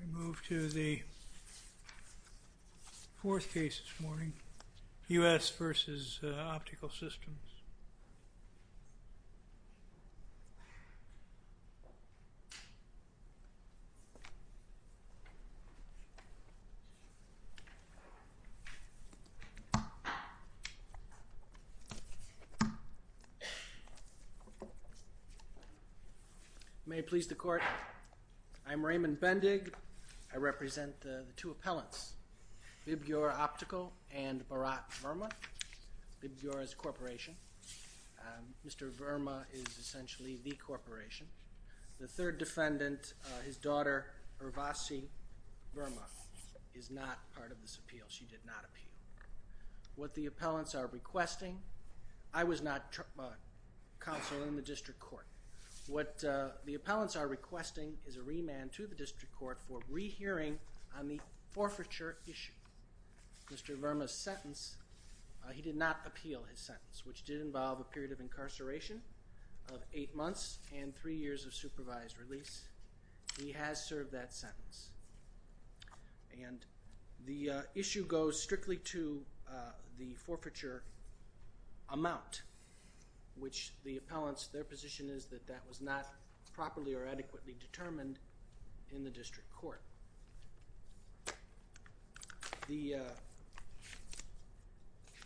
We move to the fourth case this morning, U.S. v. Optical Systems. May it please the Court, I'm Raymond Bendig, I represent the two appellants, Vibgyor Optical and Bharat Verma, Vibgyor's corporation. Mr. Verma is essentially the corporation. The third defendant, his daughter, Urvasi Verma, is not part of this appeal, she did not appeal. What the appellants are requesting, I was not counsel in the district court, what the appellants are requesting is a remand to the district court for rehearing on the forfeiture issue. Mr. Verma's sentence, he did not appeal his sentence, which did involve a period of incarceration of eight months and three years of supervised release. He has served that sentence. And the issue goes strictly to the forfeiture amount, which the appellants, their position is that that was not properly or adequately determined in the district court.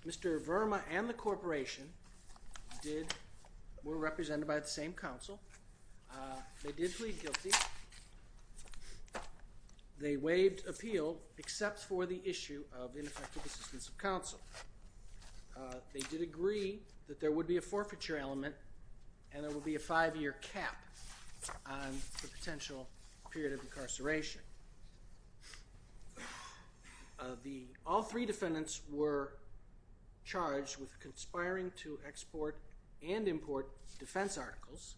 Mr. Verma and the corporation were represented by the same counsel, they did plead guilty, they waived appeal except for the issue of ineffective assistance of counsel. They did agree that there would be a forfeiture element and there would be a five-year cap on the potential period of incarceration. All three defendants were charged with conspiring to export and import defense articles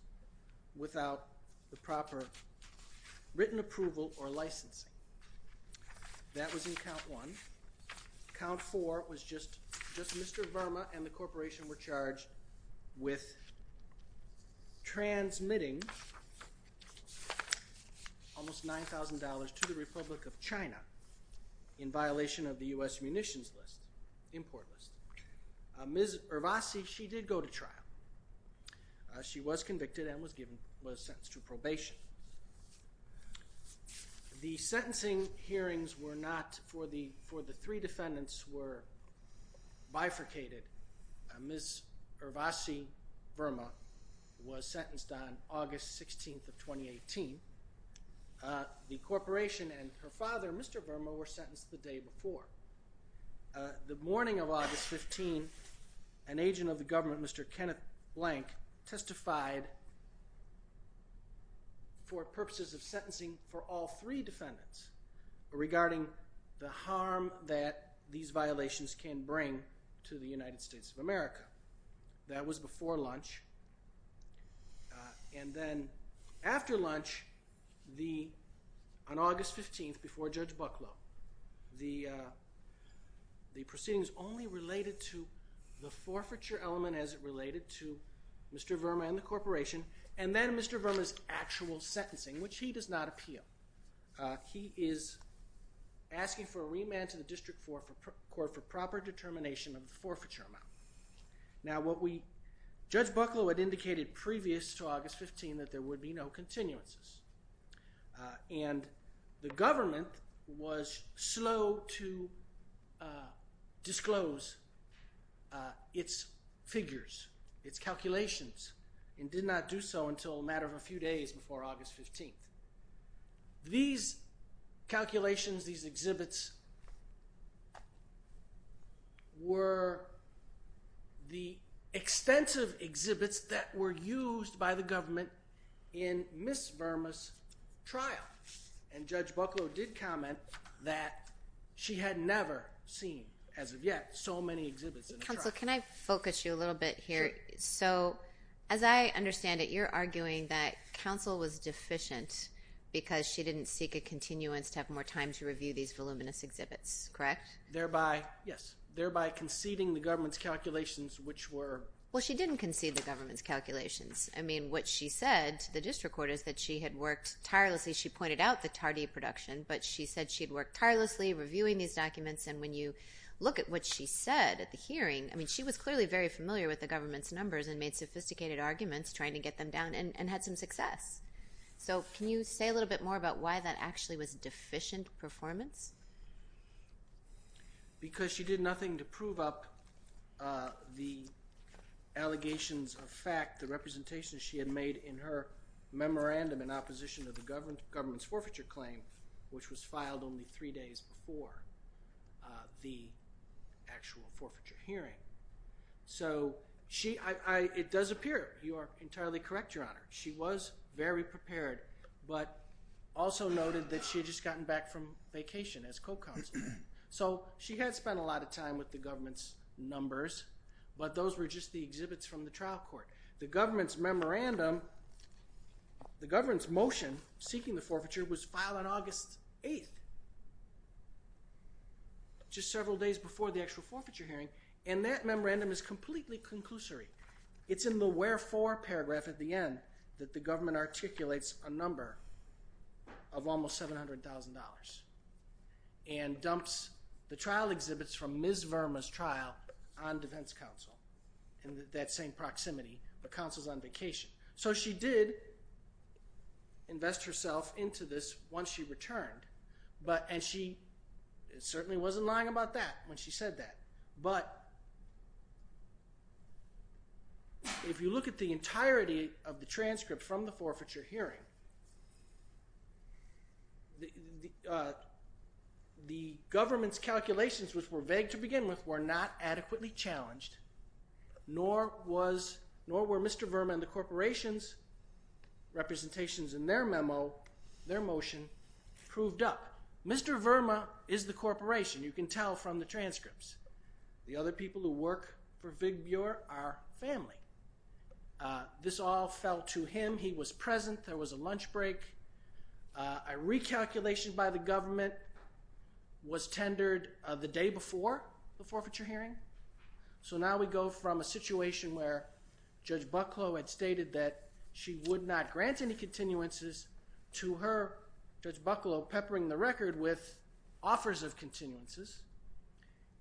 without the proper written approval or licensing. That was in count one. Count four was just Mr. Verma and the corporation were charged with transmitting almost $9,000 to the Republic of China in violation of the U.S. munitions list, import list. Ms. Urvasi, she did go to trial. She was convicted and was sentenced to probation. The sentencing hearings were not for the, for the three defendants were bifurcated. Ms. Urvasi Verma was sentenced on August 16th of 2018. The corporation and her father, Mr. Verma, were sentenced the day before. The morning of August 15, an agent of the government, Mr. Kenneth Blank, testified for purposes of sentencing for all three defendants regarding the harm that these violations can bring to the United States of America. That was before lunch and then after lunch, the, on August 15th before Judge Bucklow, the proceedings only related to the forfeiture element as it related to Mr. Verma and the corporation and then Mr. Verma's actual sentencing, which he does not appeal. He is asking for a remand to the District Court for proper determination of the forfeiture amount. Now what we, Judge Bucklow had indicated previous to August 15 that there would be no continuances and the government was slow to disclose its figures, its calculations, and did not do so until a matter of a few days before August 15th. These calculations, these exhibits were the extensive exhibits that were used by the government in Ms. Verma's trial and Judge Bucklow did comment that she had never seen, as of yet, so many exhibits in a trial. Counsel, can I focus you a little bit here? Sure. So, as I understand it, you're arguing that counsel was deficient because she didn't seek a continuance to have more time to review these voluminous exhibits, correct? Thereby, yes, thereby conceding the government's calculations, which were. Well, she didn't concede the government's calculations. I mean, what she said to the District Court is that she had worked tirelessly, she pointed out the Tardy production, but she said she had worked tirelessly reviewing these documents and when you look at what she said at the hearing, I mean, she was clearly very familiar with the government's numbers and made sophisticated arguments trying to get them down and had some success. So, can you say a little bit more about why that actually was deficient performance? Because she did nothing to prove up the allegations of fact, the representation she had made in her memorandum in opposition of the government's forfeiture claim, which was filed only three days before the actual forfeiture hearing. So, it does appear, you are entirely correct, Your Honor, she was very prepared, but also noted that she had just gotten back from vacation as co-counsel. So, she had spent a lot of time with the government's numbers, but those were just the exhibits from the trial court. The government's memorandum, the government's motion seeking the forfeiture was filed on August 8th, just several days before the actual forfeiture hearing, and that memorandum is completely conclusory. It's in the wherefore paragraph at the end that the government articulates a number of almost $700,000 and dumps the trial exhibits from Ms. Verma's trial on defense counsel in that same proximity, but counsel's on vacation. So, she did invest herself into this once she returned, and she certainly wasn't lying about that when she said that, but if you look at the entirety of the transcript from the forfeiture hearing, the government's calculations, which were vague to begin with, were not adequately challenged, nor were Mr. Verma and the corporation's representations in their memo, their motion, proved up. Now, Mr. Verma is the corporation. You can tell from the transcripts. The other people who work for Vig Buer are family. This all fell to him. He was present. There was a lunch break. A recalculation by the government was tendered the day before the forfeiture hearing, so now we go from a situation where Judge Bucklow had stated that she would not grant any continuances to her, Judge Bucklow peppering the record with offers of continuances,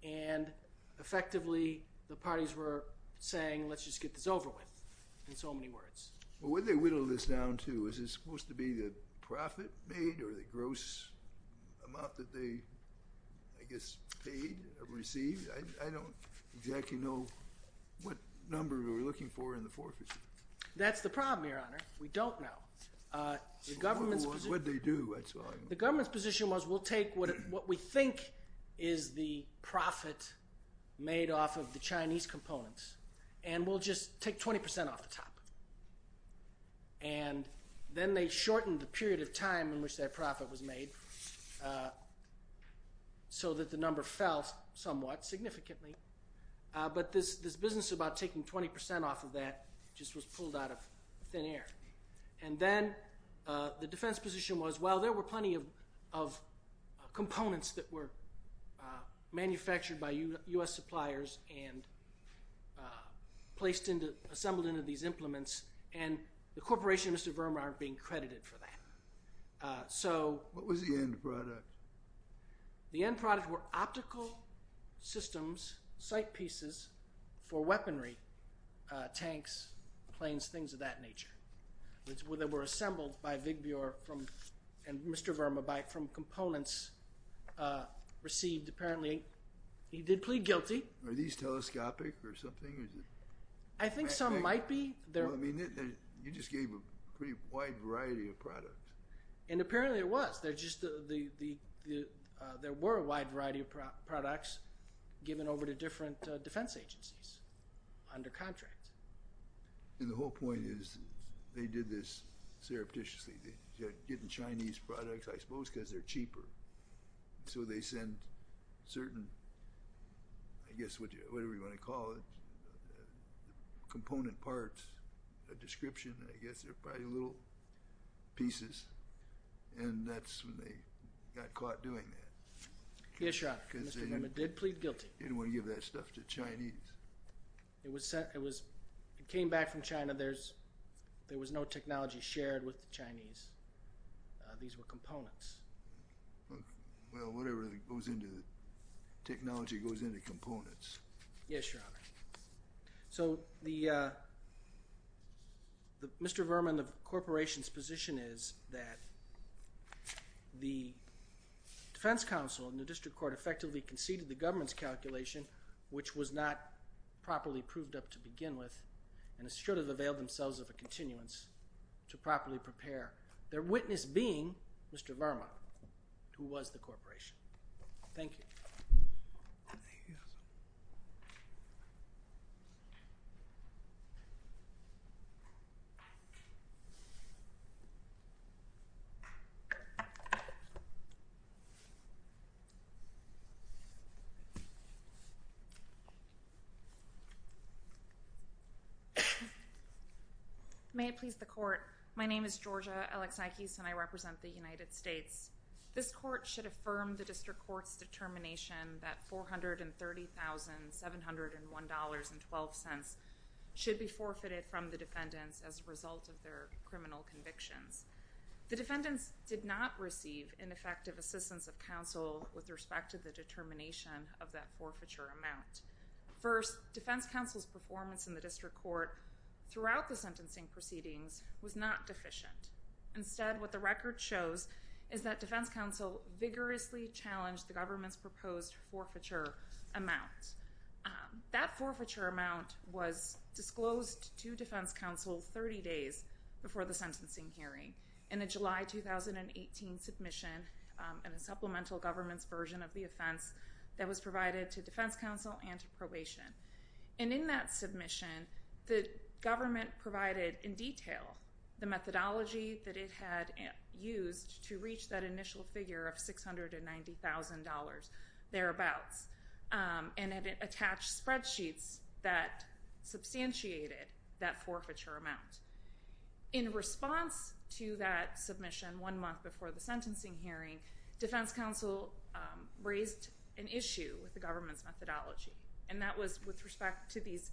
and effectively the parties were saying, let's just get this over with, in so many words. Well, what did they whittle this down to? Is this supposed to be the profit made or the gross amount that they, I guess, paid or received? I don't exactly know what number we were looking for in the forfeiture. That's the problem, Your Honor. We don't know. The government's position was, we'll take what we think is the profit made off of the Chinese components, and we'll just take 20 percent off the top, and then they shortened the period of time in which that profit was made so that the number fell somewhat, significantly, but this business about taking 20 percent off of that just was pulled out of thin air. And then the defense position was, well, there were plenty of components that were manufactured by U.S. suppliers and placed into, assembled into these implements, and the corporation and Mr. Verma aren't being credited for that. So— What was the end product? The end product were optical systems, sight pieces for weaponry, tanks, planes, things of that nature. They were assembled by Vigbjor and Mr. Verma from components received, apparently, he did plead guilty. Are these telescopic or something? I think some might be. I mean, you just gave a pretty wide variety of products. And apparently it was. There just, there were a wide variety of products given over to different defense agencies under contract. And the whole point is they did this surreptitiously, getting Chinese products, I suppose, because they're cheaper. So they send certain, I guess, whatever you want to call it, component parts, a description, I guess, they're probably little pieces, and that's when they got caught doing that. Yes, Your Honor. Because they— Mr. Verma did plead guilty. He didn't want to give that stuff to the Chinese. It was sent, it was, it came back from China, there's, there was no technology shared with the Chinese. These were components. Well, whatever goes into, technology goes into components. Yes, Your Honor. So, the, Mr. Verma and the Corporation's position is that the Defense Council and the District Court effectively conceded the government's calculation, which was not properly proved up to begin with, and should have availed themselves of a continuance to properly prepare, their witness being Mr. Verma, who was the Corporation. Thank you. Thank you, Your Honor. May it please the Court, my name is Georgia Alexakis, and I represent the United States. This Court should affirm the District Court's determination that $430,701.12 should be forfeited from the defendants as a result of their criminal convictions. The defendants did not receive ineffective assistance of counsel with respect to the determination of that forfeiture amount. First, Defense Council's performance in the District Court throughout the sentencing proceedings was not deficient. Instead, what the record shows is that Defense Council vigorously challenged the government's proposed forfeiture amount. That forfeiture amount was disclosed to Defense Council 30 days before the sentencing hearing in a July 2018 submission in a supplemental government's version of the offense that was provided to Defense Council and to probation. And in that submission, the government provided in detail the methodology that it had used to reach that initial figure of $690,000, thereabouts, and it attached spreadsheets that substantiated that forfeiture amount. In response to that submission one month before the sentencing hearing, Defense Council raised an issue with the government's methodology, and that was with respect to this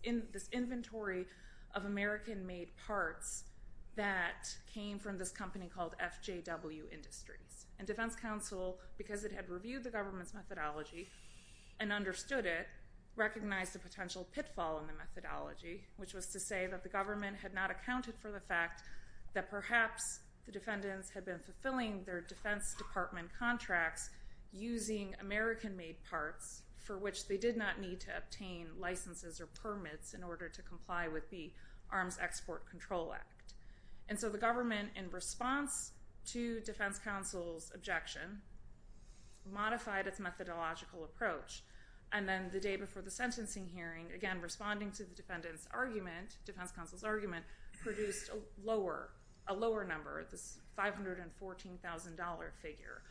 inventory of American-made parts that came from this company called FJW Industries. And Defense Council, because it had reviewed the government's methodology and understood it, recognized a potential pitfall in the methodology, which was to say that the government had not accounted for the fact that perhaps the defendants had been fulfilling their Defense Department contracts using American-made parts, for which they did not need to obtain licenses or permits in order to comply with the Arms Export Control Act. And so the government, in response to Defense Council's objection, modified its methodological approach. And then the day before the sentencing hearing, again responding to the defendants' argument, Defense Council's argument, produced a lower number, this $514,000 figure.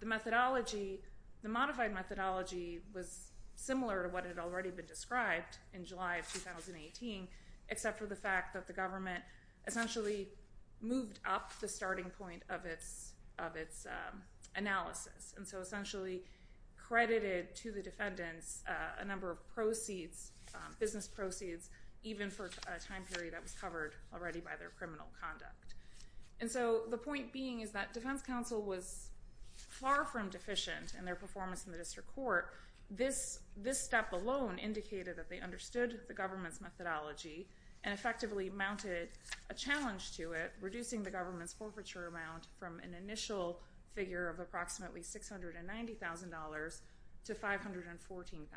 The methodology, the modified methodology, was similar to what had already been described in July of 2018, except for the fact that the government essentially moved up the starting point of its analysis, and so essentially credited to the defendants a number of proceeds, business proceeds, even for a time period that was covered already by their criminal conduct. And so the point being is that Defense Council was far from deficient in their performance in the district court. This step alone indicated that they understood the government's methodology and effectively mounted a challenge to it, reducing the government's forfeiture amount from an initial figure of approximately $690,000 to $514,000.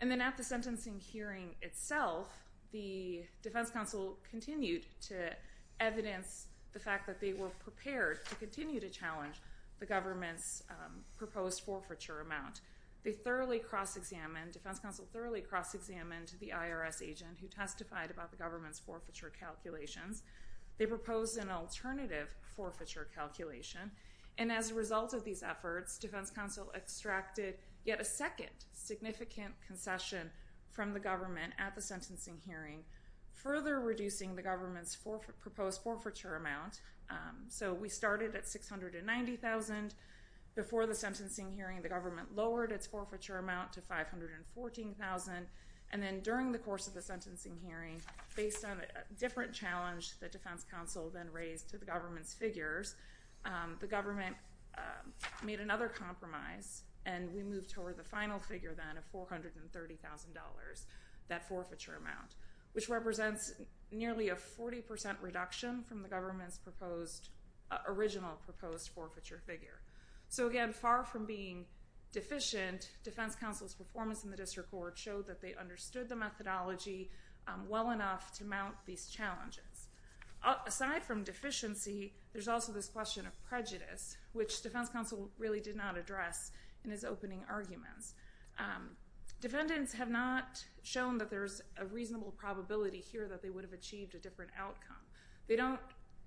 And then at the sentencing hearing itself, the Defense Council continued to evidence the fact that they were prepared to continue to challenge the government's proposed forfeiture amount. They thoroughly cross-examined, Defense Council thoroughly cross-examined the IRS agent who testified about the government's forfeiture calculations. They proposed an alternative forfeiture calculation, and as a result of these efforts, Defense Council extracted yet a second significant concession from the government at the sentencing hearing, further reducing the government's proposed forfeiture amount. So we started at $690,000. Before the sentencing hearing, the government lowered its forfeiture amount to $514,000. And then during the course of the sentencing hearing, based on a different challenge that the government's figures, the government made another compromise, and we moved toward the final figure then of $430,000, that forfeiture amount, which represents nearly a 40% reduction from the government's original proposed forfeiture figure. So again, far from being deficient, Defense Council's performance in the district court showed that they understood the methodology well enough to mount these challenges. Aside from deficiency, there's also this question of prejudice, which Defense Council really did not address in its opening arguments. Defendants have not shown that there's a reasonable probability here that they would have achieved a different outcome. They don't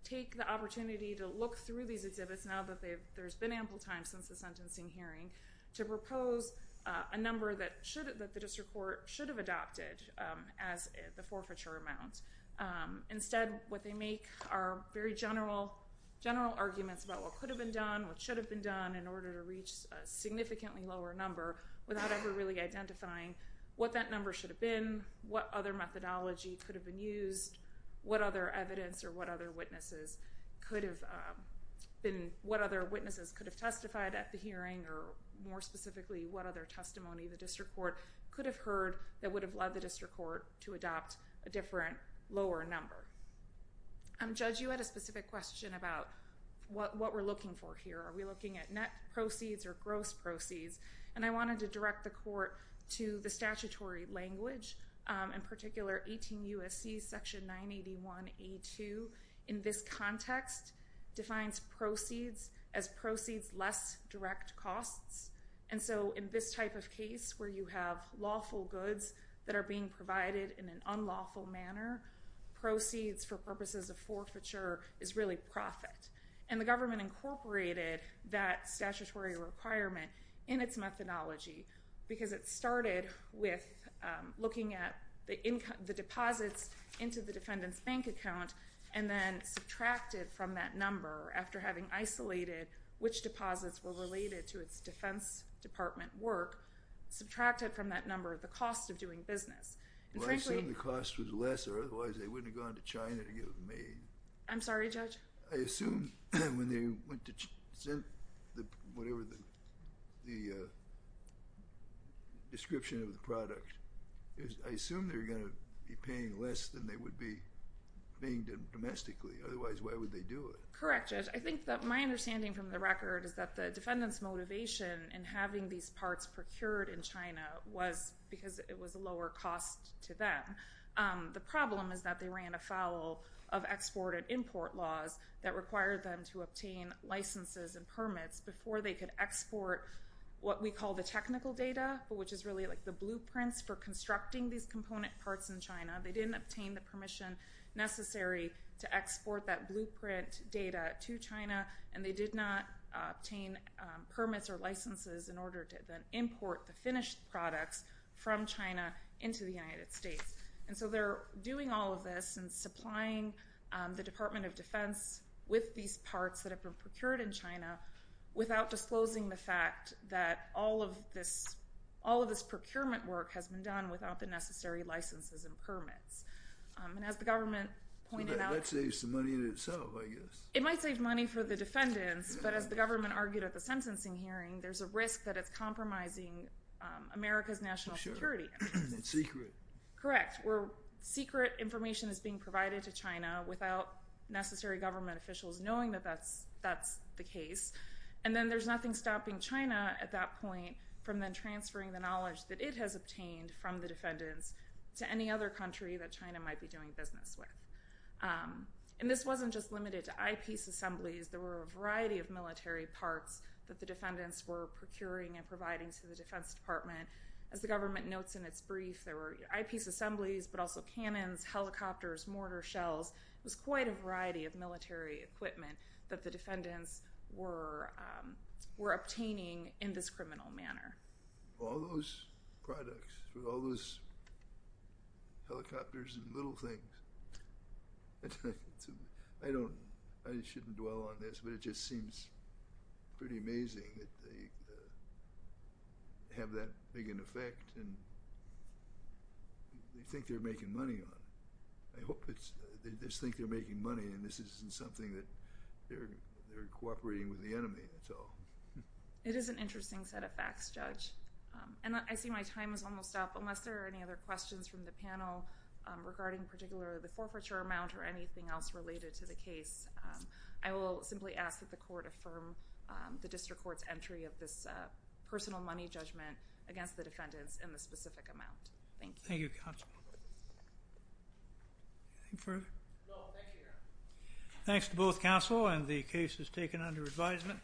take the opportunity to look through these exhibits, now that there's been ample time since the sentencing hearing, to propose a number that the district court should have Instead, what they make are very general arguments about what could have been done, what should have been done, in order to reach a significantly lower number, without ever really identifying what that number should have been, what other methodology could have been used, what other evidence or what other witnesses could have testified at the hearing, or more specifically, what other testimony the district court could have heard that would have led the district court to adopt a different, lower number. Judge, you had a specific question about what we're looking for here. Are we looking at net proceeds or gross proceeds? And I wanted to direct the court to the statutory language, in particular, 18 U.S.C. section 981A2, in this context, defines proceeds as proceeds less direct costs. And so, in this type of case, where you have lawful goods that are being provided in an unlawful manner, proceeds for purposes of forfeiture is really profit. And the government incorporated that statutory requirement in its methodology, because it started with looking at the deposits into the defendant's bank account, and then subtracted from that number, after having isolated which deposits were related to its defense department work, subtracted from that number the cost of doing business. And frankly... Well, I assume the cost was lesser, otherwise, they wouldn't have gone to China to get it made. I'm sorry, Judge? I assume when they went to China, whatever the description of the product, I assume they're going to be paying less than they would be being done domestically, otherwise, why would they do it? Correct, Judge. I think that my understanding from the record is that the defendant's motivation in having these parts procured in China was because it was a lower cost to them. The problem is that they ran afoul of export and import laws that required them to obtain licenses and permits before they could export what we call the technical data, which is really like the blueprints for constructing these component parts in China. They didn't obtain the permission necessary to export that blueprint data to China, and they did not obtain permits or licenses in order to then import the finished products from China into the United States. And so they're doing all of this and supplying the Department of Defense with these parts that have been procured in China without disclosing the fact that all of this procurement work has been done without the necessary licenses and permits. And as the government pointed out— That saves some money in itself, I guess. It might save money for the defendants, but as the government argued at the sentencing hearing, there's a risk that it's compromising America's national security. For sure. It's secret. Correct. Where secret information is being provided to China without necessary government officials knowing that that's the case. And then there's nothing stopping China at that point from then transferring the knowledge that it has obtained from the defendants to any other country that China might be doing business with. And this wasn't just limited to eyepiece assemblies. There were a variety of military parts that the defendants were procuring and providing to the Defense Department. As the government notes in its brief, there were eyepiece assemblies, but also cannons, helicopters, mortar shells. It was quite a variety of military equipment that the defendants were obtaining in this criminal manner. All those products, all those helicopters and little things. I shouldn't dwell on this, but it just seems pretty amazing that they have that big an effect and they think they're making money on it. I hope they just think they're making money and this isn't something that they're cooperating with the enemy. That's all. It is an interesting set of facts, Judge. And I see my time is almost up. Unless there are any other questions from the panel regarding particularly the forfeiture amount or anything else related to the case, I will simply ask that the Court affirm the District Court's entry of this personal money judgment against the defendants in the specific amount. Thank you. Thank you, Counsel. Anything further? No, thank you, Your Honor. Thanks to both counsel and the cases taken under advisement.